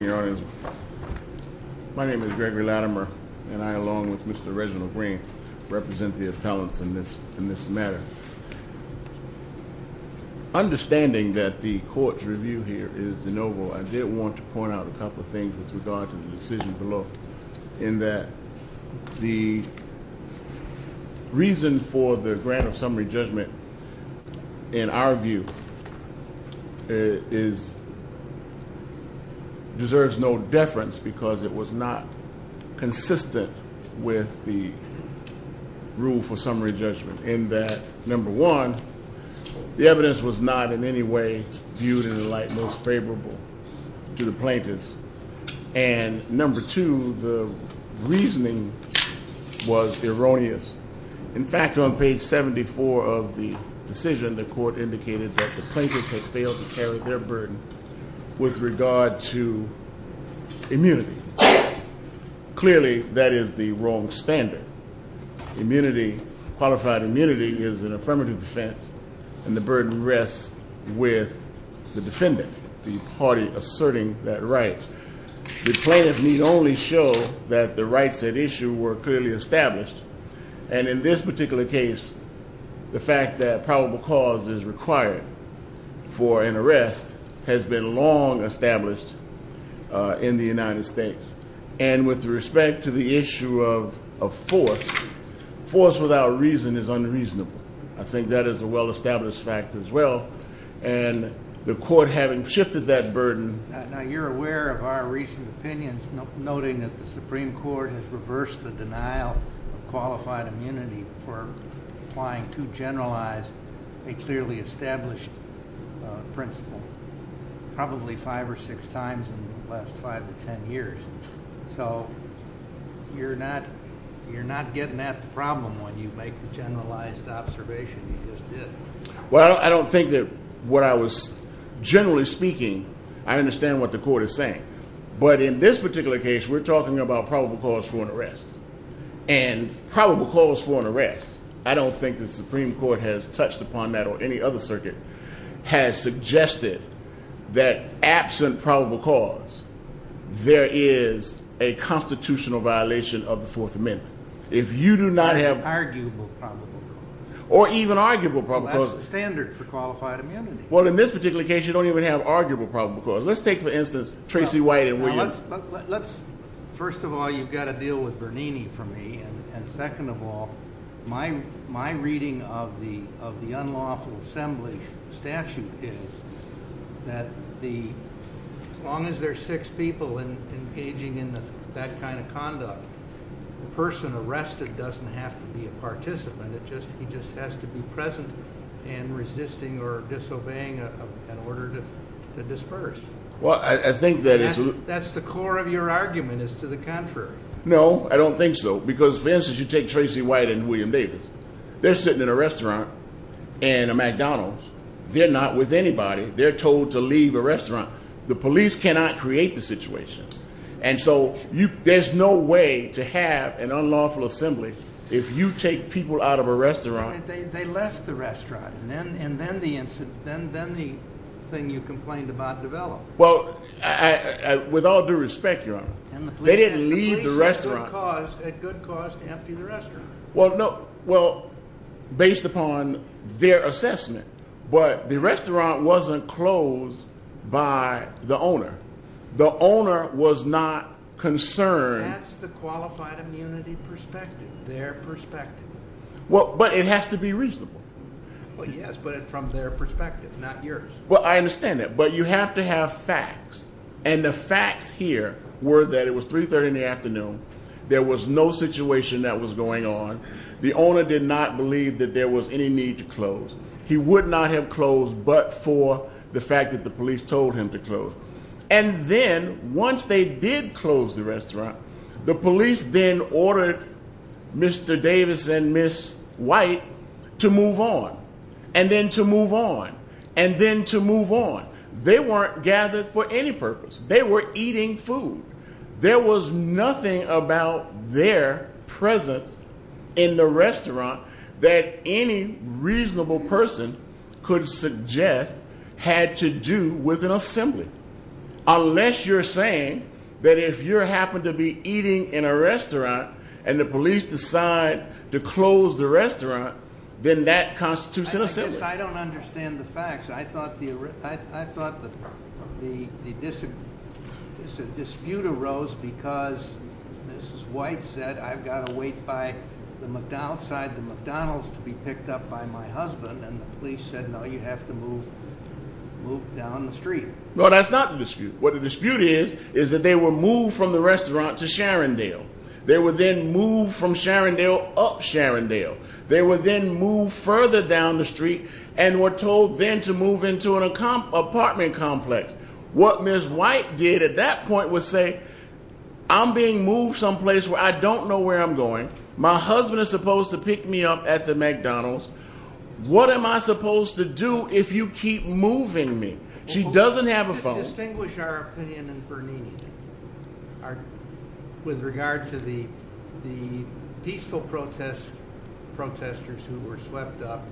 My name is Gregory Latimer, and I, along with Mr. Reginald Green, represent the appellants in this matter. Understanding that the court's review here is de novo, I did want to point out a couple of things with regard to the decision below, in that the reason for the grant of summary judgment, in our view, deserves no deference, because it was not consistent with the rule for summary judgment, in that, number one, the evidence was not in any way viewed in the light most favorable to the plaintiffs, and number two, the reasoning was erroneous. In fact, on page 74 of the decision, the court indicated that the plaintiffs had failed to carry their burden with regard to immunity. Clearly, that is the wrong standard. Qualified immunity is an affirmative defense, and the burden rests with the defendant, the party asserting that right. The plaintiff need only show that the rights at issue were clearly established, and in this particular case, the fact that probable cause is required for an arrest has been long established in the United States. And with respect to the issue of force, force without reason is unreasonable. I think that is a well-established fact as well, and the court having shifted that burden. Now, you're aware of our recent opinions, noting that the Supreme Court has reversed the denial of qualified immunity for applying too generalized a clearly established principle probably five or six times in the last five to ten years. So you're not getting at the problem when you make the generalized observation you just did. Well, I don't think that what I was generally speaking, I understand what the court is saying, but in this particular case, we're talking about probable cause for an arrest, and probable cause for an arrest, I don't think the Supreme Court has touched upon that or any other circuit, has suggested that absent probable cause, there is a constitutional violation of the Fourth Amendment. If you do not have arguable probable cause. Or even arguable probable cause. Well, that's the standard for qualified immunity. Well, in this particular case, you don't even have arguable probable cause. Let's take, for instance, Tracy White and Williams. First of all, you've got to deal with Bernini for me. And second of all, my reading of the unlawful assembly statute is that as long as there are six people engaging in that kind of conduct, the person arrested doesn't have to be a participant. He just has to be present and resisting or disobeying an order to disperse. That's the core of your argument, is to the contrary. No, I don't think so. Because, for instance, you take Tracy White and William Davis. They're sitting in a restaurant in a McDonald's. They're not with anybody. They're told to leave a restaurant. The police cannot create the situation. And so there's no way to have an unlawful assembly if you take people out of a restaurant. They left the restaurant, and then the thing you complained about developed. Well, with all due respect, Your Honor, they didn't leave the restaurant. The police, at good cost, emptied the restaurant. Well, based upon their assessment, the restaurant wasn't closed by the owner. The owner was not concerned. That's the qualified immunity perspective, their perspective. But it has to be reasonable. Well, yes, but from their perspective, not yours. Well, I understand that, but you have to have facts. And the facts here were that it was 3.30 in the afternoon. There was no situation that was going on. The owner did not believe that there was any need to close. He would not have closed but for the fact that the police told him to close. And then, once they did close the restaurant, the police then ordered Mr. Davis and Ms. White to move on. And then to move on. And then to move on. They weren't gathered for any purpose. They were eating food. There was nothing about their presence in the restaurant that any reasonable person could suggest had to do with an assembly. Unless you're saying that if you happen to be eating in a restaurant and the police decide to close the restaurant, then that constitutes an assembly. I guess I don't understand the facts. I thought the dispute arose because Ms. White said, I've got to wait outside the McDonald's to be picked up by my husband. And the police said, no, you have to move down the street. No, that's not the dispute. What the dispute is, is that they were moved from the restaurant to Sharondale. They were then moved from Sharondale up Sharondale. They were then moved further down the street and were told then to move into an apartment complex. What Ms. White did at that point was say, I'm being moved someplace where I don't know where I'm going. My husband is supposed to pick me up at the McDonald's. What am I supposed to do if you keep moving me? She doesn't have a phone. Can you distinguish our opinion in Bernini with regard to the peaceful protestors who were swept up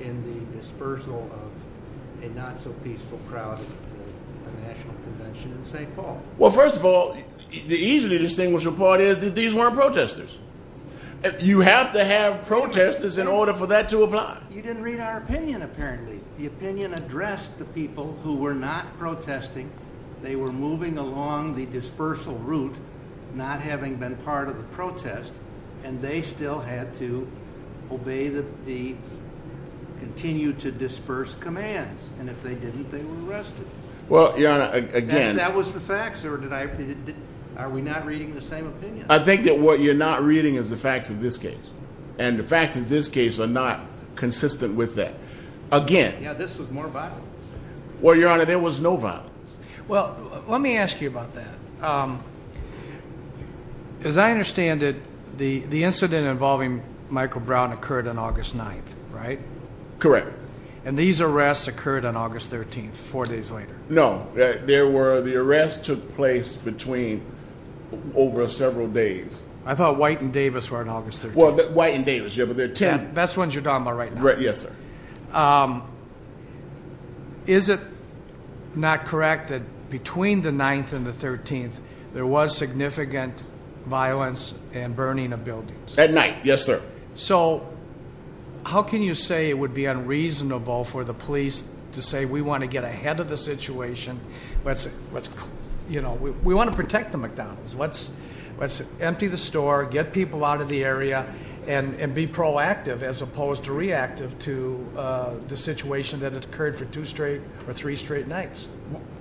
in the dispersal of a not so peaceful crowd at the National Convention in St. Paul? Well, first of all, the easily distinguishable part is that these weren't protestors. You have to have protestors in order for that to apply. You didn't read our opinion, apparently. The opinion addressed the people who were not protesting. They were moving along the dispersal route, not having been part of the protest, and they still had to obey the continue to disperse commands. And if they didn't, they were arrested. Well, Your Honor, again— That was the facts, or are we not reading the same opinion? I think that what you're not reading is the facts of this case. And the facts of this case are not consistent with that. Again— Yeah, this was more violence. Well, Your Honor, there was no violence. Well, let me ask you about that. As I understand it, the incident involving Michael Brown occurred on August 9th, right? Correct. And these arrests occurred on August 13th, four days later. No. There were—the arrests took place between—over several days. I thought White and Davis were on August 13th. That's when Judama, right now. Yes, sir. Is it not correct that between the 9th and the 13th, there was significant violence and burning of buildings? At night, yes, sir. So how can you say it would be unreasonable for the police to say, We want to get ahead of the situation. We want to protect the McDonald's. Let's empty the store, get people out of the area, and be proactive as opposed to reactive to the situation that occurred for two straight or three straight nights.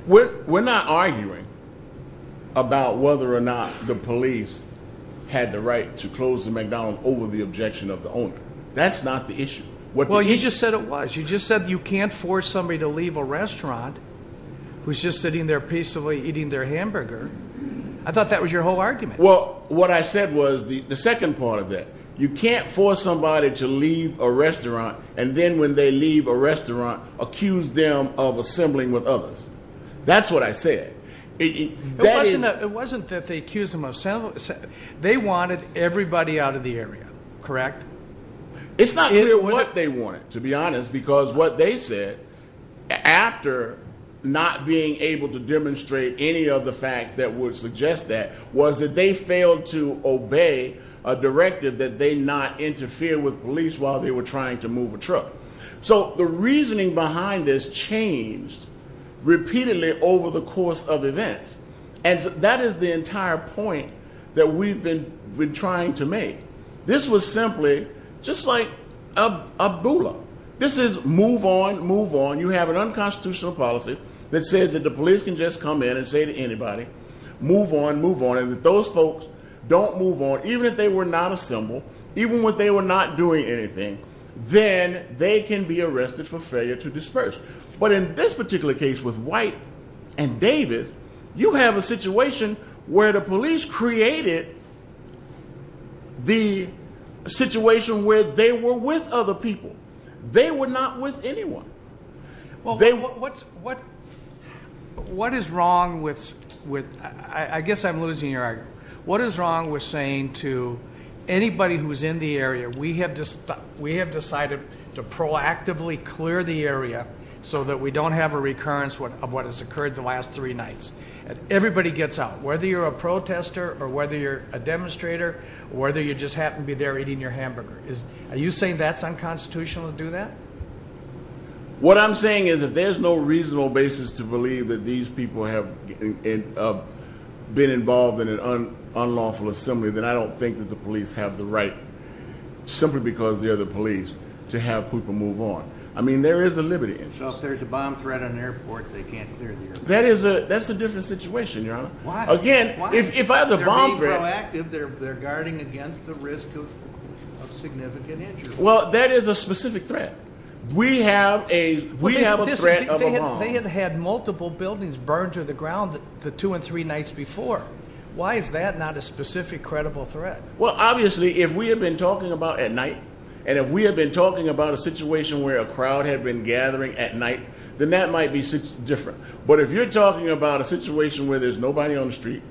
We're not arguing about whether or not the police had the right to close the McDonald's over the objection of the owner. That's not the issue. Well, you just said it was. Who's just sitting there peacefully eating their hamburger. I thought that was your whole argument. Well, what I said was the second part of that. You can't force somebody to leave a restaurant, and then when they leave a restaurant, accuse them of assembling with others. That's what I said. It wasn't that they accused them of—they wanted everybody out of the area. Correct? It's not clear what they wanted, to be honest, because what they said, after not being able to demonstrate any of the facts that would suggest that, was that they failed to obey a directive that they not interfere with police while they were trying to move a truck. So the reasoning behind this changed repeatedly over the course of events. And that is the entire point that we've been trying to make. This was simply just like a bulla. This is move on, move on. You have an unconstitutional policy that says that the police can just come in and say to anybody, move on, move on. And if those folks don't move on, even if they were not assembled, even if they were not doing anything, then they can be arrested for failure to disperse. But in this particular case with White and Davis, you have a situation where the police created the situation where they were with other people. They were not with anyone. What is wrong with, I guess I'm losing your argument. What is wrong with saying to anybody who's in the area, we have decided to proactively clear the area so that we don't have a recurrence of what has occurred the last three nights. Everybody gets out, whether you're a protester or whether you're a demonstrator or whether you just happen to be there eating your hamburger. Are you saying that's unconstitutional to do that? What I'm saying is if there's no reasonable basis to believe that these people have been involved in an unlawful assembly, then I don't think that the police have the right, simply because they're the police, to have people move on. I mean, there is a liberty in it. So if there's a bomb threat on an airport, they can't clear the airport? That's a different situation, Your Honor. Why? Again, if I have the bomb threat. If they're being proactive, they're guarding against the risk of significant injury. Well, that is a specific threat. We have a threat of a bomb. They have had multiple buildings burned to the ground the two and three nights before. Why is that not a specific credible threat? Well, obviously, if we have been talking about at night and if we have been talking about a situation where a crowd had been gathering at night, then that might be different. But if you're talking about a situation where there's nobody on the street,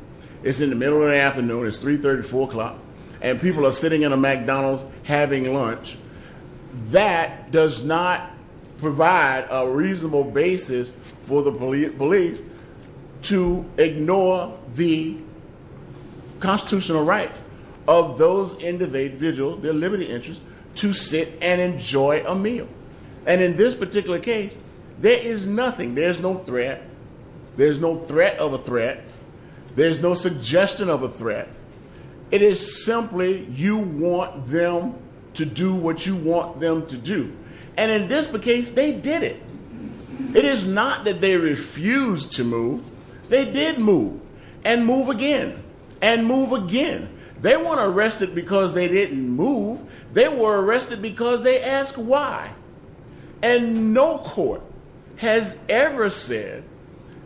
it's in the middle of the afternoon, it's 334 o'clock, and people are sitting in a McDonald's having lunch, that does not provide a reasonable basis for the police to ignore the constitutional rights of those individuals, their liberty interests, to sit and enjoy a meal. And in this particular case, there is nothing. There's no threat. There's no threat of a threat. There's no suggestion of a threat. It is simply you want them to do what you want them to do. And in this case, they did it. It is not that they refused to move. They did move and move again and move again. They weren't arrested because they didn't move. They were arrested because they asked why. And no court has ever said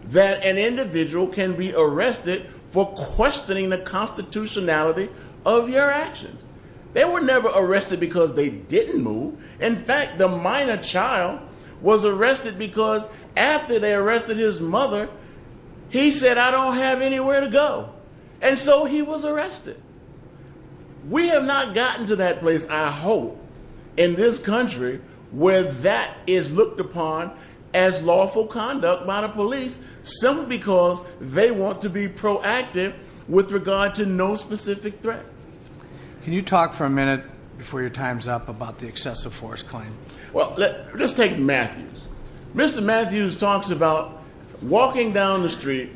that an individual can be arrested for questioning the constitutionality of your actions. They were never arrested because they didn't move. In fact, the minor child was arrested because after they arrested his mother, he said, I don't have anywhere to go. And so he was arrested. We have not gotten to that place, I hope, in this country where that is looked upon as lawful conduct by the police simply because they want to be proactive with regard to no specific threat. Can you talk for a minute before your time's up about the excessive force claim? Well, let's take Matthews. Mr. Matthews talks about walking down the street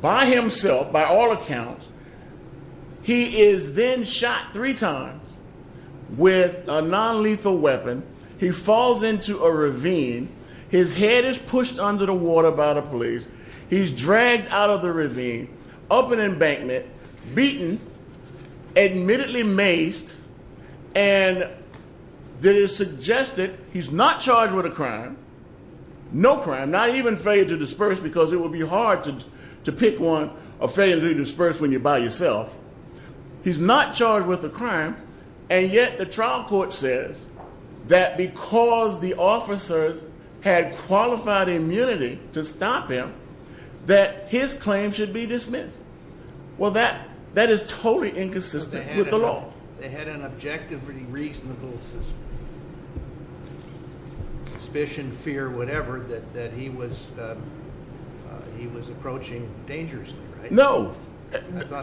by himself, by all accounts. He is then shot three times with a nonlethal weapon. He falls into a ravine. His head is pushed under the water by the police. He's dragged out of the ravine, up an embankment, beaten, admittedly maced, and it is suggested he's not charged with a crime, no crime, not even failure to disperse because it would be hard to pick one or failure to disperse when you're by yourself. He's not charged with a crime, and yet the trial court says that because the officers had qualified immunity to stop him, that his claim should be dismissed. Well, that is totally inconsistent with the law. They had an objectively reasonable suspicion, fear, whatever, that he was approaching dangerously, right? No.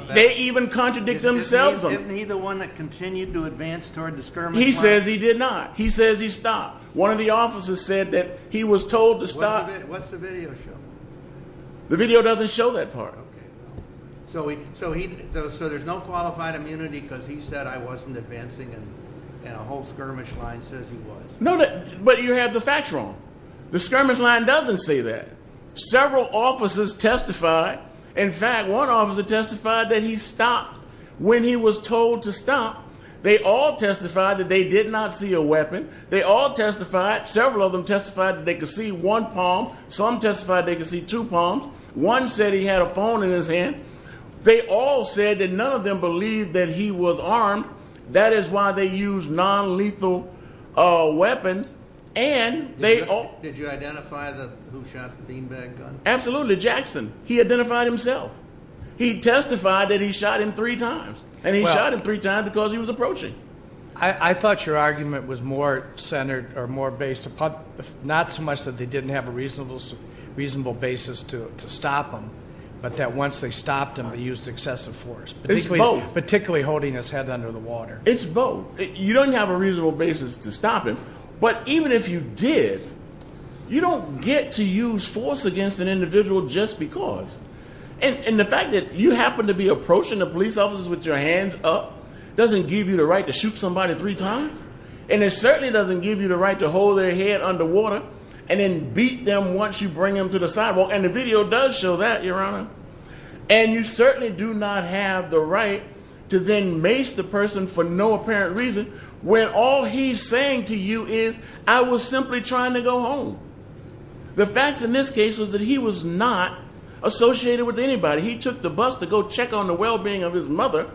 They even contradict themselves. Isn't he the one that continued to advance toward the skirmish line? He says he did not. He says he stopped. One of the officers said that he was told to stop. What's the video show? The video doesn't show that part. Okay. So there's no qualified immunity because he said I wasn't advancing, and a whole skirmish line says he was. No, but you have the facts wrong. The skirmish line doesn't say that. Several officers testified. In fact, one officer testified that he stopped when he was told to stop. They all testified that they did not see a weapon. They all testified, several of them testified, that they could see one palm. Some testified they could see two palms. One said he had a phone in his hand. They all said that none of them believed that he was armed. That is why they used nonlethal weapons. Did you identify who shot the beanbag gun? Absolutely, Jackson. He identified himself. He testified that he shot him three times, and he shot him three times because he was approaching. I thought your argument was more centered or more based upon not so much that they didn't have a reasonable basis to stop him, but that once they stopped him, they used excessive force, particularly holding his head under the water. It's both. You don't have a reasonable basis to stop him, but even if you did, you don't get to use force against an individual just because. And the fact that you happen to be approaching the police officers with your hands up doesn't give you the right to shoot somebody three times, and it certainly doesn't give you the right to hold their head under water and then beat them once you bring them to the sidewalk. And the video does show that, Your Honor. And you certainly do not have the right to then mace the person for no apparent reason when all he's saying to you is, I was simply trying to go home. The facts in this case was that he was not associated with anybody. He took the bus to go check on the well-being of his mother,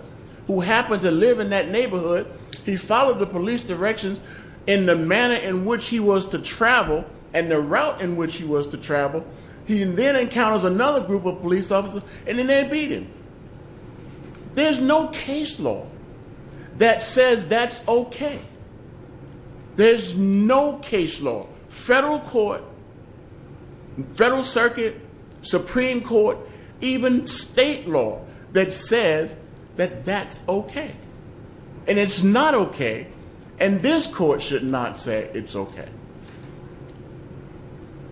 who happened to live in that neighborhood. He followed the police directions in the manner in which he was to travel and the route in which he was to travel. He then encounters another group of police officers, and then they beat him. There's no case law that says that's okay. There's no case law, federal court, federal circuit, Supreme Court, even state law that says that that's okay. And it's not okay, and this court should not say it's okay.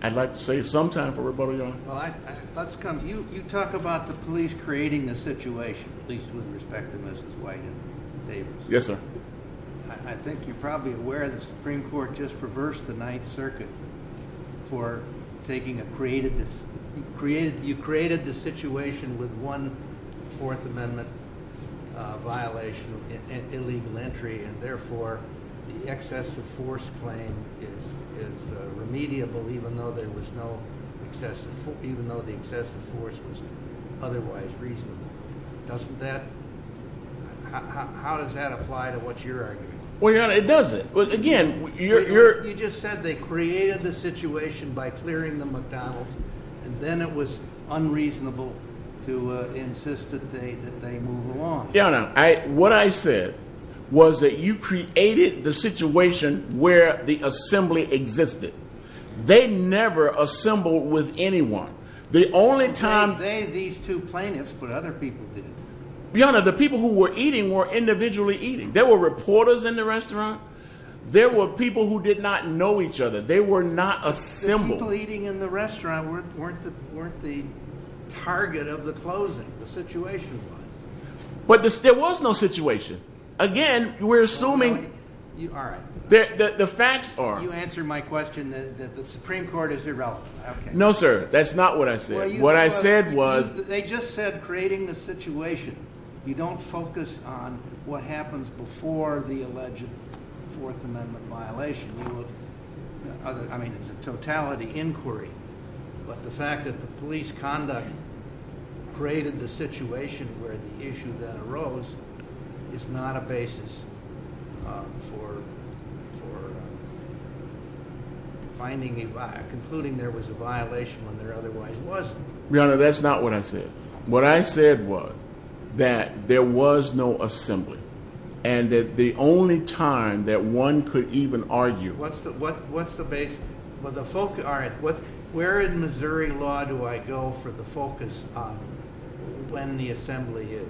I'd like to save some time for everybody, Your Honor. Let's come to you. You talk about the police creating the situation, at least with respect to Mrs. White and Davis. Yes, sir. I think you're probably aware the Supreme Court just reversed the Ninth Circuit for taking a creative decision. You created the situation with one Fourth Amendment violation and illegal entry, and therefore the excessive force claim is remediable even though there was no excessive force, even though the excessive force was otherwise reasonable. Doesn't that – how does that apply to what you're arguing? Well, Your Honor, it doesn't. Again, you're – You just said they created the situation by clearing the McDonald's, and then it was unreasonable to insist that they move along. Your Honor, what I said was that you created the situation where the assembly existed. They never assembled with anyone. The only time – They, these two plaintiffs, but other people did. Your Honor, the people who were eating were individually eating. There were reporters in the restaurant. There were people who did not know each other. They were not assembled. The people eating in the restaurant weren't the target of the closing, the situation was. But there was no situation. Again, we're assuming – All right. The facts are – You answered my question that the Supreme Court is irrelevant. No, sir. That's not what I said. What I said was – They just said creating the situation. You don't focus on what happens before the alleged Fourth Amendment violation. I mean, it's a totality inquiry. But the fact that the police conduct created the situation where the issue then arose is not a basis for finding a – concluding there was a violation when there otherwise wasn't. Your Honor, that's not what I said. What I said was that there was no assembly and that the only time that one could even argue – What's the basis? Well, the – All right. Where in Missouri law do I go for the focus on when the assembly is?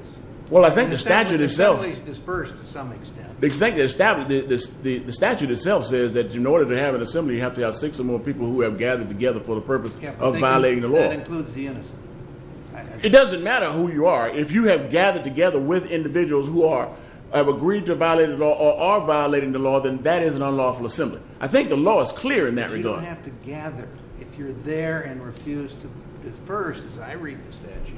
Well, I think the statute itself – The assembly is dispersed to some extent. The statute itself says that in order to have an assembly you have to have six or more people who have gathered together for the purpose of violating the law. That includes the innocent. It doesn't matter who you are. If you have gathered together with individuals who have agreed to violate the law or are violating the law, then that is an unlawful assembly. I think the law is clear in that regard. But you don't have to gather. If you're there and refuse to disperse, as I read the statute,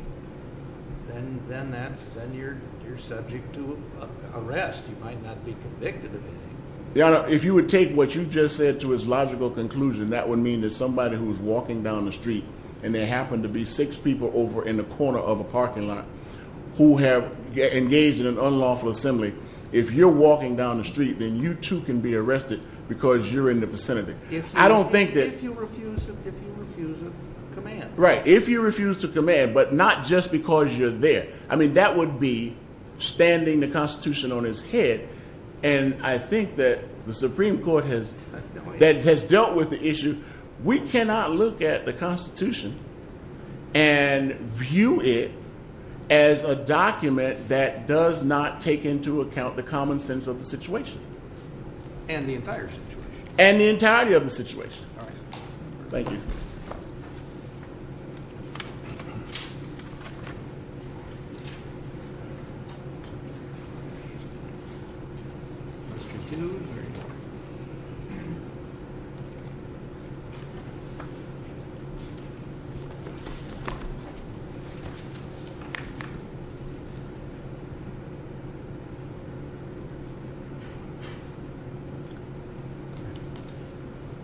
then you're subject to arrest. You might not be convicted of anything. Your Honor, if you would take what you just said to its logical conclusion, that would mean that somebody who is walking down the street – and there happen to be six people over in the corner of a parking lot who have engaged in an unlawful assembly – if you're walking down the street, then you too can be arrested because you're in the vicinity. I don't think that – If you refuse to command. Right. If you refuse to command, but not just because you're there. I mean, that would be standing the Constitution on its head. And I think that the Supreme Court has dealt with the issue. We cannot look at the Constitution and view it as a document that does not take into account the common sense of the situation. And the entire situation. And the entirety of the situation. All right. Thank you.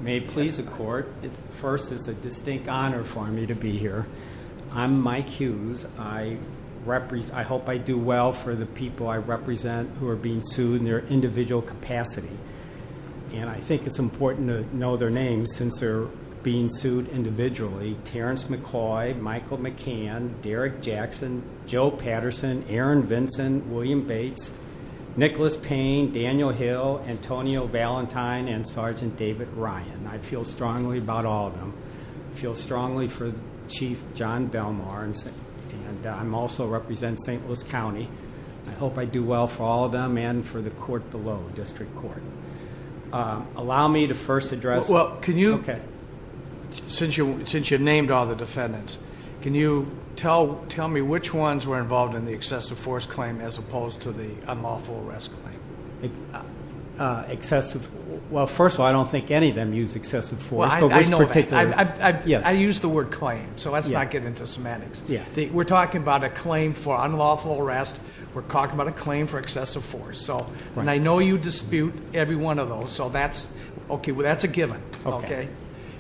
May it please the Court. First, it's a distinct honor for me to be here. I'm Mike Hughes. I hope I do well for the people I represent who are being sued in their individual capacity. And I think it's important to know their names since they're being sued individually. Terrence McCoy, Michael McCann, Derek Jackson, Joe Patterson, Aaron Vinson, William Bates, Nicholas Payne, Daniel Hill, Antonio Valentine, and Sergeant David Ryan. I feel strongly about all of them. I feel strongly for Chief John Belmar. And I also represent St. Louis County. I hope I do well for all of them and for the court below, district court. Allow me to first address. Well, can you. Okay. Since you named all the defendants, can you tell me which ones were involved in the excessive force claim as opposed to the unlawful arrest claim? Excessive. Well, first of all, I don't think any of them use excessive force. I know that. I use the word claim. So let's not get into semantics. Yeah. We're talking about a claim for unlawful arrest. We're talking about a claim for excessive force. And I know you dispute every one of those. So that's a given. Okay.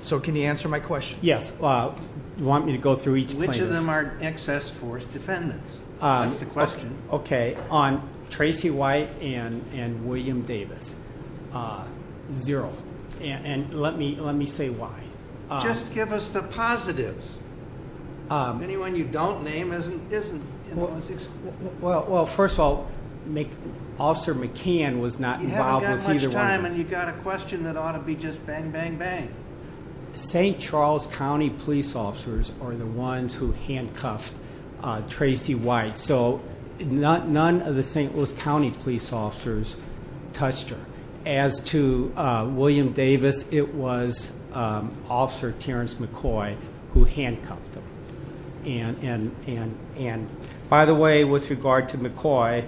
So can you answer my question? Yes. You want me to go through each plaintiff? Which of them are excess force defendants? That's the question. Okay. On Tracy White and William Davis. Zero. And let me say why. Just give us the positives. Anyone you don't name isn't. Well, first of all, Officer McCann was not involved with either one. You haven't got much time, and you've got a question that ought to be just bang, bang, bang. St. Charles County police officers are the ones who handcuffed Tracy White. So none of the St. Louis County police officers touched her. As to William Davis, it was Officer Terrence McCoy who handcuffed him. And, by the way, with regard to McCoy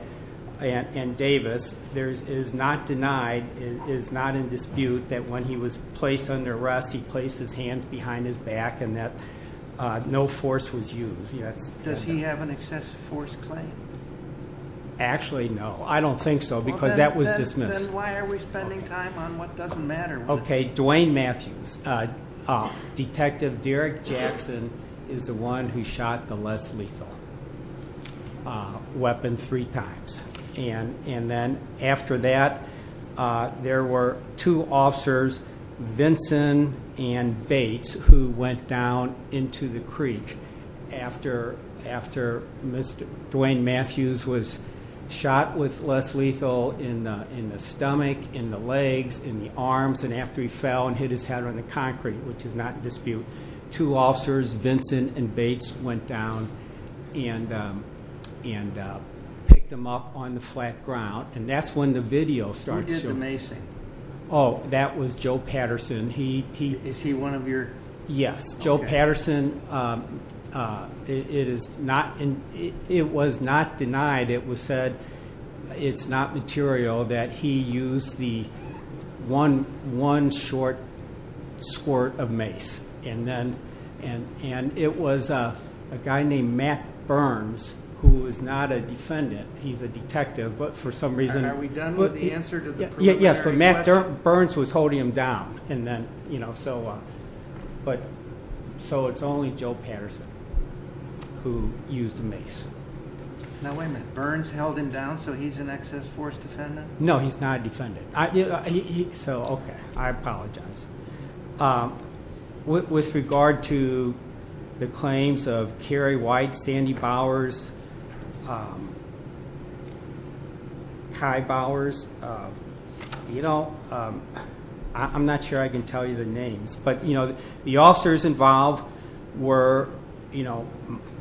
and Davis, it is not denied, it is not in dispute that when he was placed under arrest, he placed his hands behind his back and that no force was used. Does he have an excessive force claim? Actually, no. I don't think so because that was dismissed. Then why are we spending time on what doesn't matter? Okay. Dwayne Matthews. Detective Derek Jackson is the one who shot the Les Lethal weapon three times. And then after that, there were two officers, Vinson and Bates, who went down into the creek after Dwayne Matthews was shot with Les Lethal in the stomach, in the legs, in the arms. And after he fell and hit his head on the concrete, which is not in dispute, two officers, Vinson and Bates, went down and picked him up on the flat ground. And that's when the video starts showing. Who did the macing? Oh, that was Joe Patterson. Is he one of your? Yes. Joe Patterson. It was not denied. It was said it's not material that he used the one short squirt of mace. And it was a guy named Matt Burns who is not a defendant. He's a detective. And are we done with the answer to the preliminary question? Burns was holding him down. So it's only Joe Patterson who used the mace. Now, wait a minute. Burns held him down so he's an excess force defendant? No, he's not a defendant. So, okay. I apologize. With regard to the claims of Carrie White, Sandy Bowers, Kai Bowers, you know, I'm not sure I can tell you the names. But, you know, the officers involved were, you know,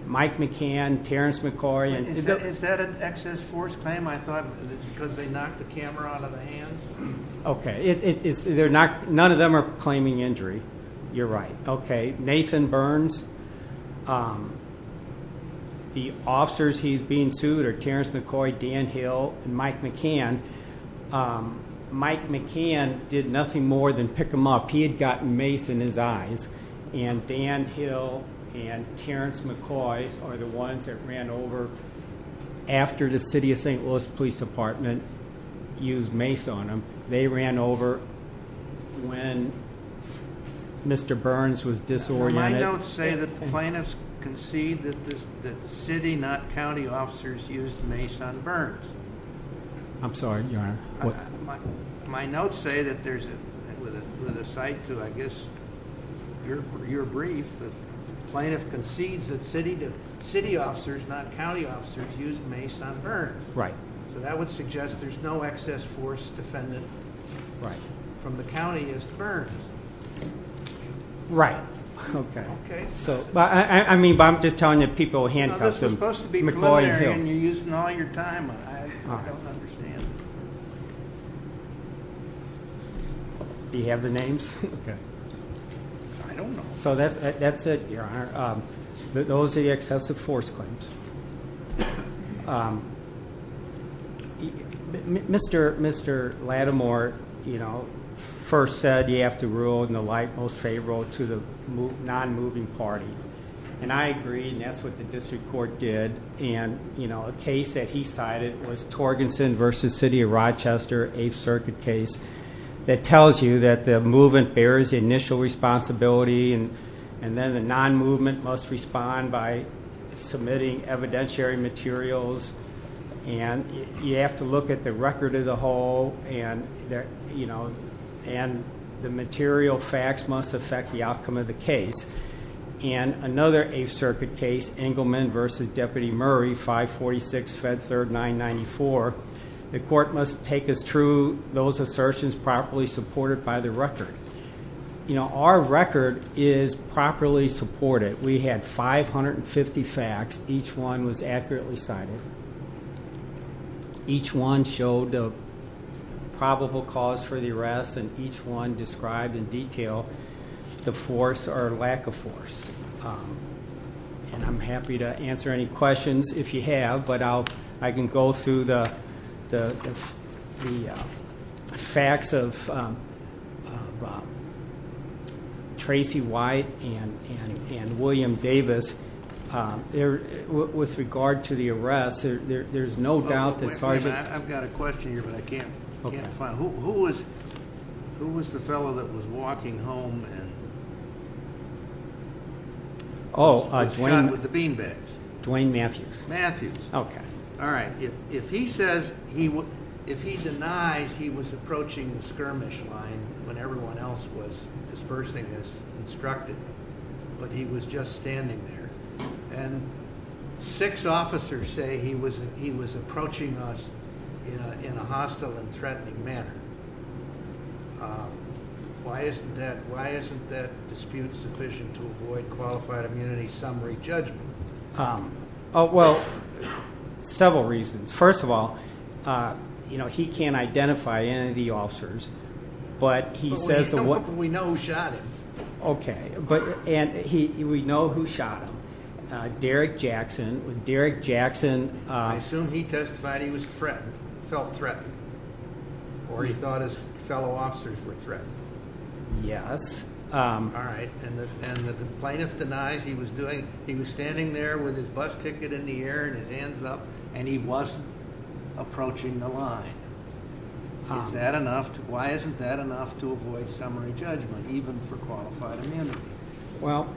Mike McCann, Terrence McCoy. Is that an excess force claim? I thought because they knocked the camera out of the hands. Okay. None of them are claiming injury. You're right. Okay. Nathan Burns, the officers he's being sued are Terrence McCoy, Dan Hill, and Mike McCann. Mike McCann did nothing more than pick him up. He had gotten mace in his eyes. And Dan Hill and Terrence McCoy are the ones that ran over after the city of St. Louis Police Department used mace on him. They ran over when Mr. Burns was disoriented. My notes say that the plaintiffs concede that the city, not county officers, used mace on Burns. I'm sorry, Your Honor. My notes say that there's, with a side to, I guess, your brief, the plaintiff concedes that city officers, not county officers, used mace on Burns. Right. So that would suggest there's no excess force defendant from the county is Burns. Right. Okay. I mean, I'm just telling you people handcuffed him. This was supposed to be preliminary and you're using all your time. I don't understand. Do you have the names? I don't know. So that's it, Your Honor. Those are the excessive force claims. Mr. Lattimore, you know, first said you have to rule in the light most favorable to the non-moving party. And I agree, and that's what the district court did. And, you know, a case that he cited was Torgensen v. City of Rochester, 8th Circuit case, that tells you that the movement bears the initial responsibility, and then the non-movement must respond by submitting evidentiary materials. And you have to look at the record of the whole, and, you know, and the material facts must affect the outcome of the case. And another 8th Circuit case, Engelman v. Deputy Murray, 546 Fed 3994, the court must take as true those assertions properly supported by the record. You know, our record is properly supported. We had 550 facts. Each one was accurately cited. Each one showed a probable cause for the arrest, and each one described in detail the force or lack of force. And I'm happy to answer any questions if you have, but I can go through the facts of Tracy White and William Davis. With regard to the arrest, there's no doubt that Sergeant. I've got a question here, but I can't find it. Who was the fellow that was walking home and was shot with the bean bags? Dwayne Matthews. Okay. All right. If he denies he was approaching the skirmish line when everyone else was dispersing as instructed, but he was just standing there. And six officers say he was approaching us in a hostile and threatening manner. Why isn't that dispute sufficient to avoid qualified immunity summary judgment? Well, several reasons. First of all, you know, he can't identify any of the officers, but he says. We know who shot him. Okay. And we know who shot him, Derek Jackson. Derek Jackson. I assume he testified he was threatened, felt threatened, or he thought his fellow officers were threatened. Yes. All right. And the plaintiff denies he was doing. He was standing there with his bus ticket in the air and his hands up, and he was approaching the line. Is that enough? Why isn't that enough to avoid summary judgment, even for qualified immunity? Well,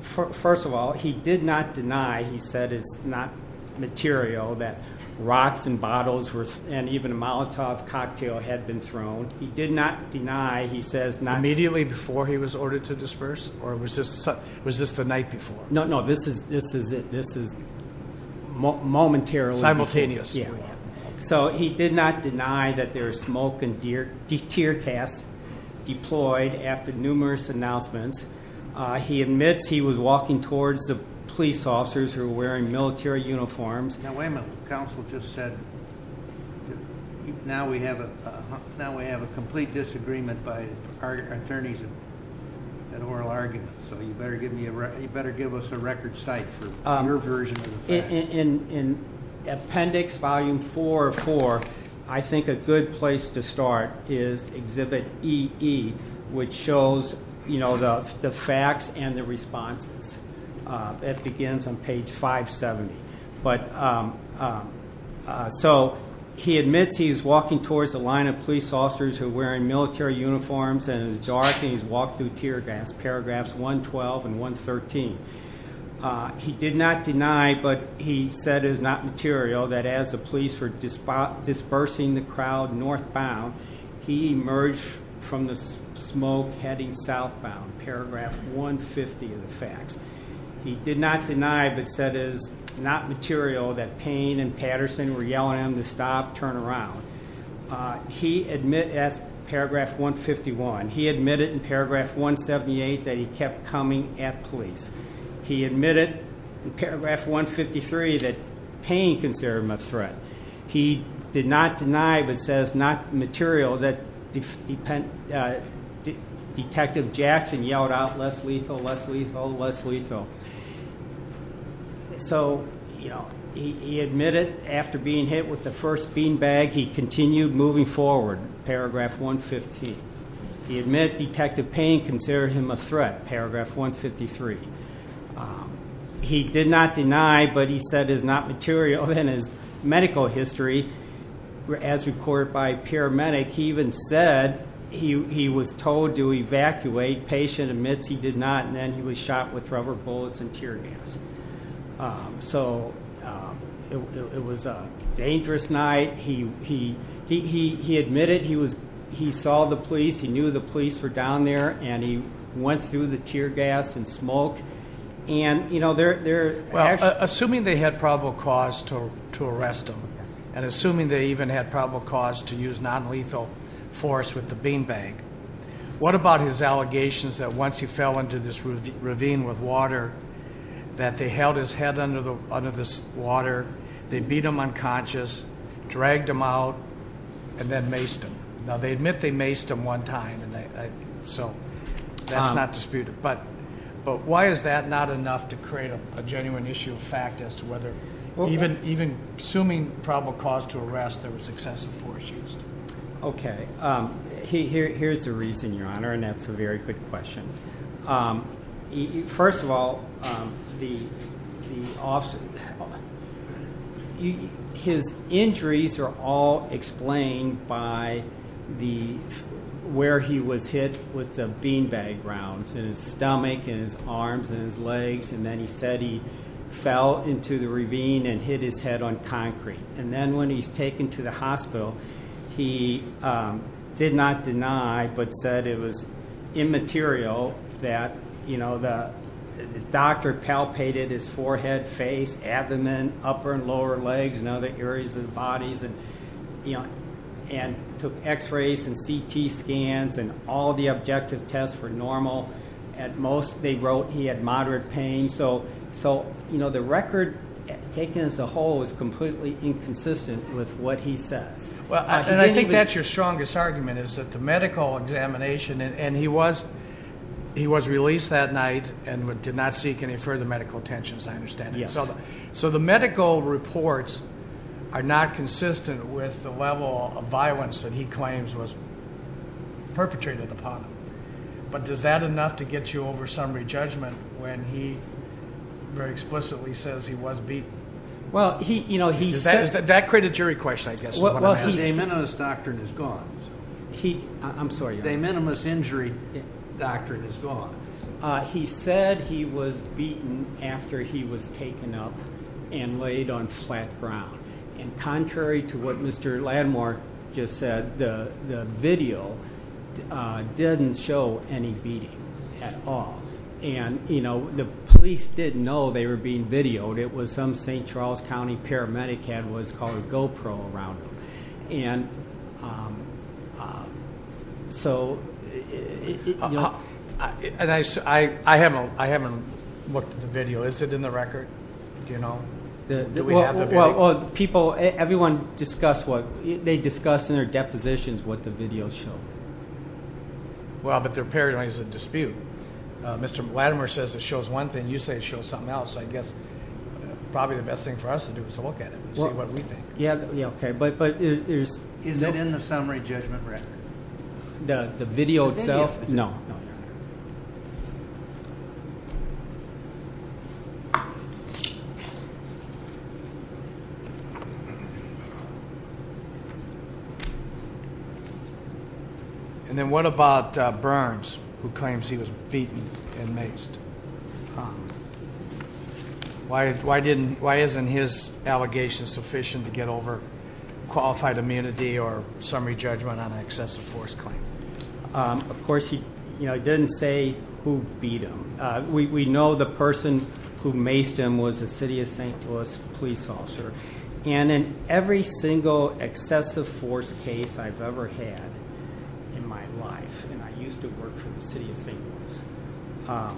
first of all, he did not deny. He said it's not material that rocks and bottles and even a Molotov cocktail had been thrown. He did not deny. Immediately before he was ordered to disperse, or was this the night before? No, no. This is it. This is momentarily. Simultaneous. Yeah. So he did not deny that there was smoke and tear gas deployed after numerous announcements. He admits he was walking towards the police officers who were wearing military uniforms. Now, wait a minute. Council just said now we have a complete disagreement by our attorneys and oral arguments. So you better give us a record site for your version of the facts. In appendix volume four of four, I think a good place to start is exhibit EE, which shows the facts and the responses. It begins on page 570. So he admits he is walking towards a line of police officers who are wearing military uniforms, and it's dark, and he's walked through tear gas, paragraphs 112 and 113. He did not deny, but he said it is not material, that as the police were dispersing the crowd northbound, he emerged from the smoke heading southbound, paragraph 150 of the facts. He did not deny, but said it is not material, that Payne and Patterson were yelling at him to stop, turn around. He admits, paragraph 151, he admitted in paragraph 178 that he kept coming at police. He admitted in paragraph 153 that Payne considered him a threat. He did not deny, but says not material, that Detective Jackson yelled out, less lethal, less lethal, less lethal. So he admitted after being hit with the first bean bag, he continued moving forward, paragraph 115. He admitted Detective Payne considered him a threat, paragraph 153. He did not deny, but he said it is not material, and his medical history, as recorded by a paramedic, he even said he was told to evacuate. The paramedic patient admits he did not, and then he was shot with rubber bullets and tear gas. So it was a dangerous night. He admitted he saw the police. He knew the police were down there, and he went through the tear gas and smoke. Assuming they had probable cause to arrest him, and assuming they even had probable cause to use nonlethal force with the bean bag, what about his allegations that once he fell into this ravine with water, that they held his head under this water, they beat him unconscious, dragged him out, and then maced him? Now, they admit they maced him one time, so that's not disputed. But why is that not enough to create a genuine issue of fact as to whether even assuming probable cause to arrest there was excessive force used? Okay. Here's the reason, Your Honor, and that's a very good question. First of all, his injuries are all explained by where he was hit with the bean bag rounds, in his stomach, in his arms, in his legs, and then he said he fell into the ravine and hit his head on concrete. And then when he was taken to the hospital, he did not deny, but said it was immaterial that the doctor palpated his forehead, face, abdomen, upper and lower legs, and other areas of the body, and took x-rays and CT scans, and all the objective tests were normal. At most, they wrote he had moderate pain. So the record taken as a whole is completely inconsistent with what he says. I think that's your strongest argument is that the medical examination, and he was released that night and did not seek any further medical attention, as I understand it. Yes. So the medical reports are not consistent with the level of violence that he claims was perpetrated upon him. But is that enough to get you over some re-judgment when he very explicitly says he was beaten? That created a jury question, I guess, is what I'm asking. The de minimis doctrine is gone. I'm sorry. The de minimis injury doctrine is gone. He said he was beaten after he was taken up and laid on flat ground. And contrary to what Mr. Landmark just said, the video didn't show any beating at all. And, you know, the police didn't know they were being videoed. It was some St. Charles County paramedic who had what was called a GoPro around him. And so you know. And I haven't looked at the video. Is it in the record? Do you know? Well, people, everyone discussed what they discussed in their depositions what the video showed. Well, but there apparently is a dispute. Mr. Landmark says it shows one thing. You say it shows something else. I guess probably the best thing for us to do is to look at it and see what we think. Yeah, okay. But there's. Is it in the summary judgment record? The video itself? No. No. And then what about Burns, who claims he was beaten and maced? Why isn't his allegation sufficient to get over qualified immunity or summary judgment on an excessive force claim? Of course, he didn't say who beat him. We know the person who maced him was the city of St. Louis police officer. And in every single excessive force case I've ever had in my life, and I used to work for the city of St. Louis,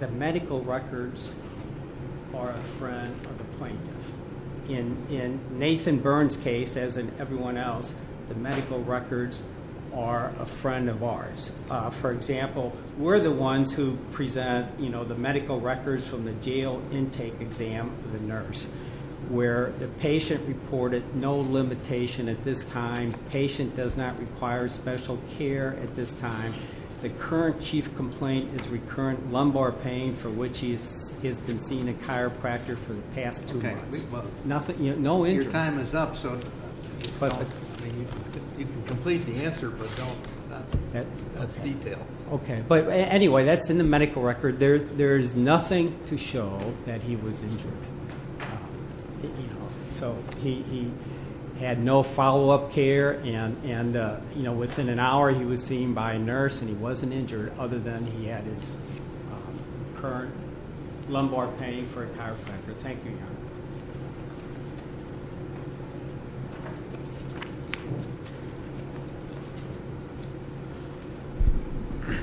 the medical records are a friend of the plaintiff. In Nathan Burns' case, as in everyone else, the medical records are a friend of ours. For example, we're the ones who present the medical records from the jail intake exam for the nurse, where the patient reported no limitation at this time. The patient does not require special care at this time. The current chief complaint is recurrent lumbar pain for which he has been seeing a chiropractor for the past two months. Okay. No injury. Your time is up, so you can complete the answer, but don't. That's detail. Okay. But anyway, that's in the medical record. There is nothing to show that he was injured. So he had no follow-up care, and within an hour he was seen by a nurse, and he wasn't injured other than he had his current lumbar pain for a chiropractor. Thank you, Your Honor.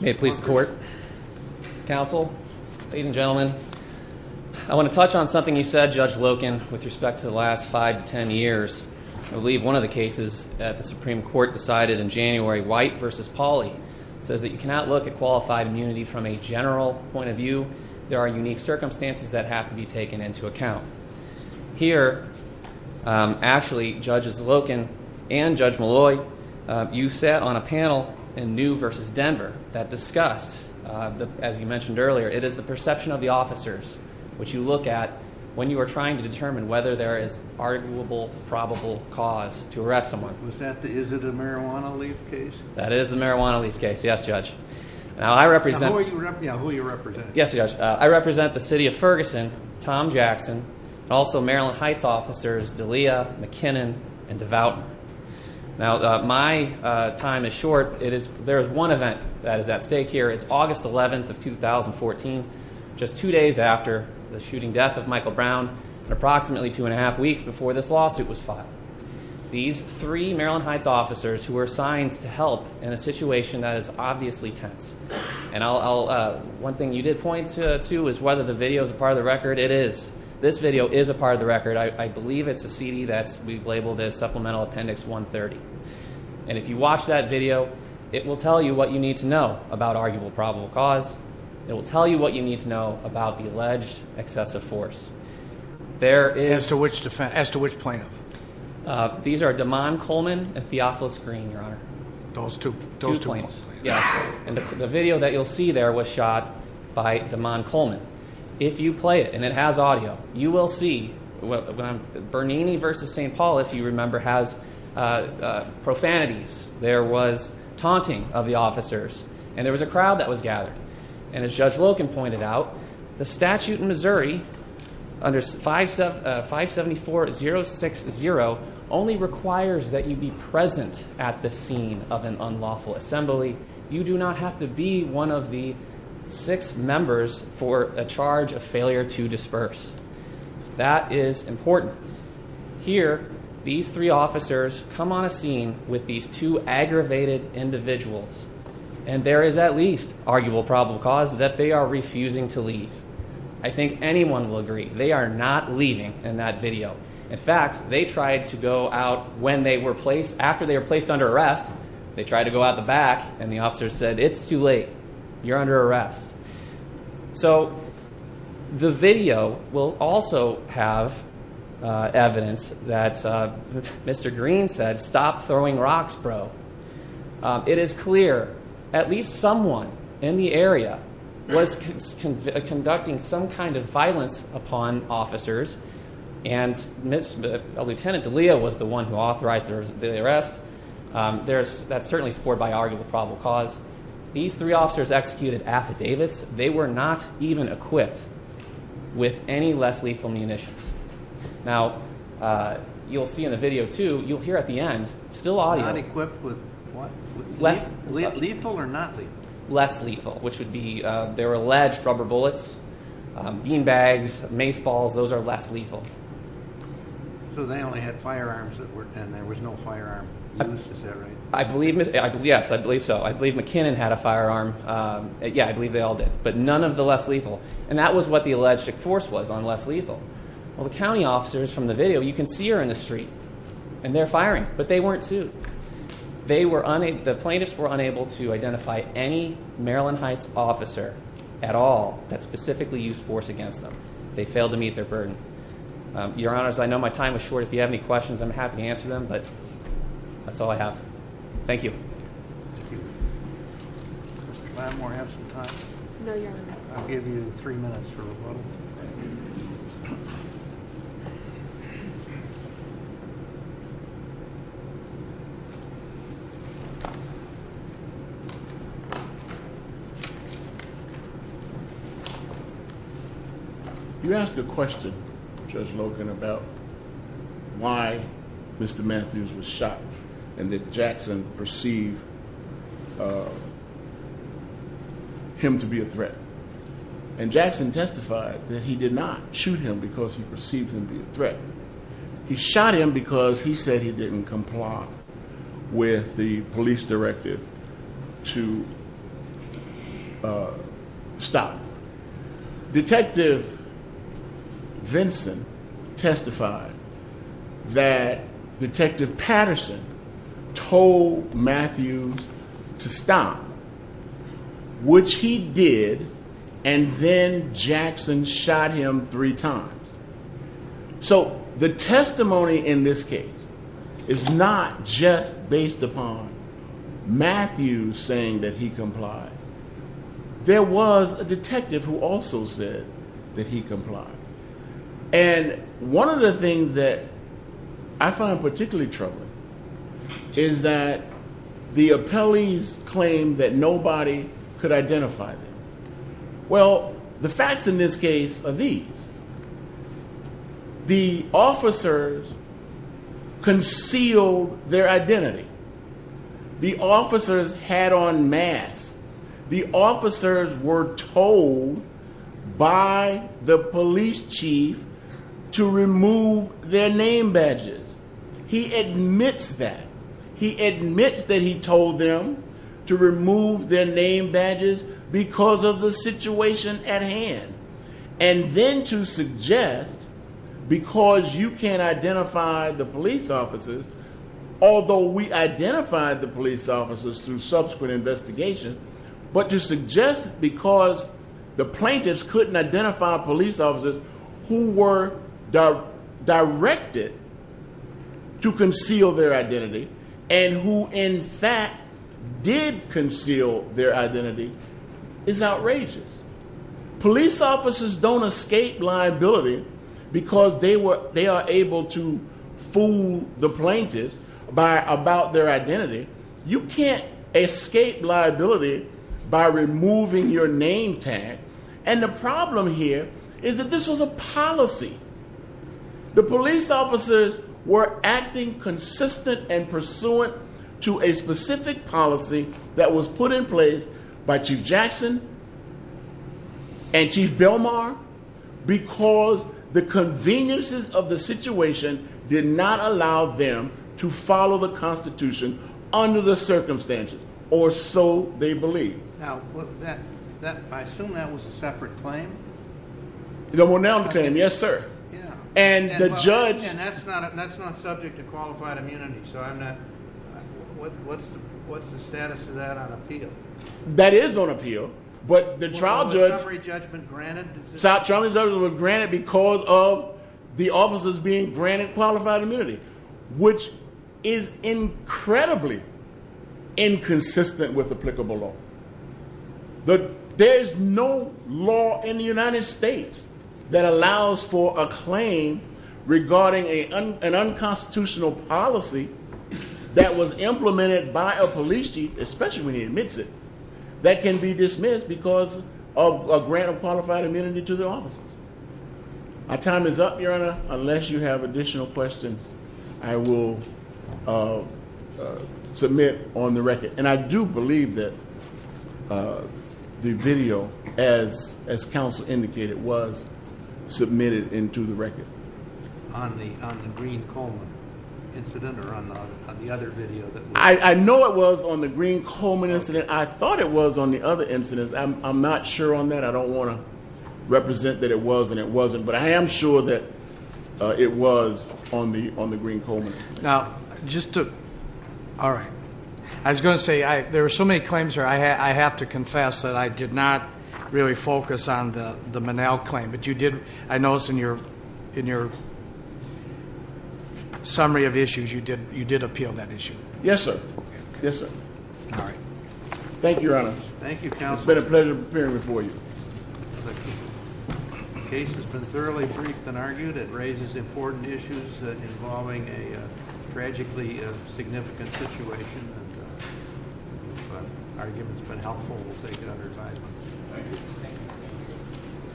May it please the Court, Counsel, ladies and gentlemen, I want to touch on something you said, Judge Loken, with respect to the last five to ten years. I believe one of the cases that the Supreme Court decided in January, White v. Pauley, says that you cannot look at qualified immunity from a general point of view. There are unique circumstances that have to be taken into account. Here, actually, Judges Loken and Judge Malloy, you sat on a panel in New v. Denver that discussed, as you mentioned earlier, it is the perception of the officers which you look at when you are trying to determine whether there is arguable, probable cause to arrest someone. Is it a marijuana leaf case? That is the marijuana leaf case, yes, Judge. Who are you representing? Yes, Judge. I represent the City of Ferguson, Tom Jackson, and also Maryland Heights officers D'Elia, McKinnon, and Devouten. Now, my time is short. There is one event that is at stake here. It's August 11th of 2014, just two days after the shooting death of Michael Brown and approximately two and a half weeks before this lawsuit was filed. These three Maryland Heights officers who were assigned to help in a situation that is obviously tense. And one thing you did point to is whether the video is a part of the record. It is. This video is a part of the record. I believe it's a CD that we've labeled as Supplemental Appendix 130. And if you watch that video, it will tell you what you need to know about arguable, probable cause. It will tell you what you need to know about the alleged excessive force. As to which plaintiff? These are Damon Coleman and Theophilus Green, Your Honor. Those two plaintiffs? Yes. And the video that you'll see there was shot by Damon Coleman. If you play it, and it has audio, you will see Bernini versus St. Paul, if you remember, has profanities. There was taunting of the officers. And there was a crowd that was gathered. And as Judge Loken pointed out, the statute in Missouri under 574060 only requires that you be present at the scene of an unlawful assembly. You do not have to be one of the six members for a charge of failure to disperse. That is important. Here, these three officers come on a scene with these two aggravated individuals. And there is at least arguable, probable cause that they are refusing to leave. I think anyone will agree they are not leaving in that video. In fact, they tried to go out after they were placed under arrest. They tried to go out the back, and the officers said, it's too late. You're under arrest. So the video will also have evidence that Mr. Green said, stop throwing rocks, bro. It is clear at least someone in the area was conducting some kind of violence upon officers. And Lieutenant D'Elia was the one who authorized the arrest. That's certainly supported by arguable, probable cause. These three officers executed affidavits. They were not even equipped with any less lethal munitions. Now, you'll see in the video, too, you'll hear at the end, still audio. They were not equipped with what? Lethal or not lethal? Less lethal, which would be their alleged rubber bullets, bean bags, mace balls. Those are less lethal. So they only had firearms, and there was no firearm used. Is that right? Yes, I believe so. I believe McKinnon had a firearm. Yeah, I believe they all did. But none of the less lethal. And that was what the alleged force was on less lethal. Well, the county officers from the video, you can see are in the street. And they're firing. But they weren't sued. The plaintiffs were unable to identify any Maryland Heights officer at all that specifically used force against them. They failed to meet their burden. Your Honors, I know my time is short. If you have any questions, I'm happy to answer them. But that's all I have. Thank you. Thank you. Mr. Gladmore, do I have some time? No, Your Honor. I'll give you three minutes for rebuttal. Thank you. You asked a question, Judge Logan, about why Mr. Matthews was shot and that Jackson perceived him to be a threat. And Jackson testified that he did not shoot him because he perceived him to be a threat. He shot him because he said he didn't comply with the police directive to stop. Detective Vinson testified that Detective Patterson told Matthews to stop, which he did. And then Jackson shot him three times. So the testimony in this case is not just based upon Matthews saying that he complied. There was a detective who also said that he complied. And one of the things that I find particularly troubling is that the appellees claimed that nobody could identify them. Well, the facts in this case are these. The officers concealed their identity. The officers had on masks. The officers were told by the police chief to remove their name badges. He admits that. He admits that he told them to remove their name badges because of the situation at hand. And then to suggest because you can't identify the police officers, although we identified the police officers through subsequent investigation, but to suggest because the plaintiffs couldn't identify police officers who were directed to conceal their identity and who in fact did conceal their identity is outrageous. Police officers don't escape liability because they are able to fool the plaintiffs about their identity. You can't escape liability by removing your name tag. And the problem here is that this was a policy. The police officers were acting consistent and pursuant to a specific policy that was put in place by Chief Jackson and Chief Belmar because the conveniences of the situation did not allow them to follow the Constitution under the circumstances or so they believe. Now, I assume that was a separate claim? Yes, sir. And that's not subject to qualified immunity, so what's the status of that on appeal? That is on appeal, but the trial judge was granted because of the officers being granted qualified immunity, which is incredibly inconsistent with applicable law. There is no law in the United States that allows for a claim regarding an unconstitutional policy that was implemented by a police chief, especially when he admits it, that can be dismissed because of a grant of qualified immunity to the officers. My time is up, Your Honor. Unless you have additional questions, I will submit on the record. And I do believe that the video, as counsel indicated, was submitted into the record. On the Green-Coleman incident or on the other video? I know it was on the Green-Coleman incident. I thought it was on the other incident. I'm not sure on that. I don't want to represent that it was and it wasn't. But I am sure that it was on the Green-Coleman incident. Now, just to – all right. I was going to say, there were so many claims here, I have to confess that I did not really focus on the Minnell claim. But you did – I noticed in your summary of issues, you did appeal that issue. Yes, sir. Yes, sir. All right. Thank you, Your Honor. Thank you, counsel. It's been a pleasure appearing before you. The case has been thoroughly briefed and argued. It raises important issues involving a tragically significant situation. If the argument has been helpful, we'll take it under advisement. Thank you.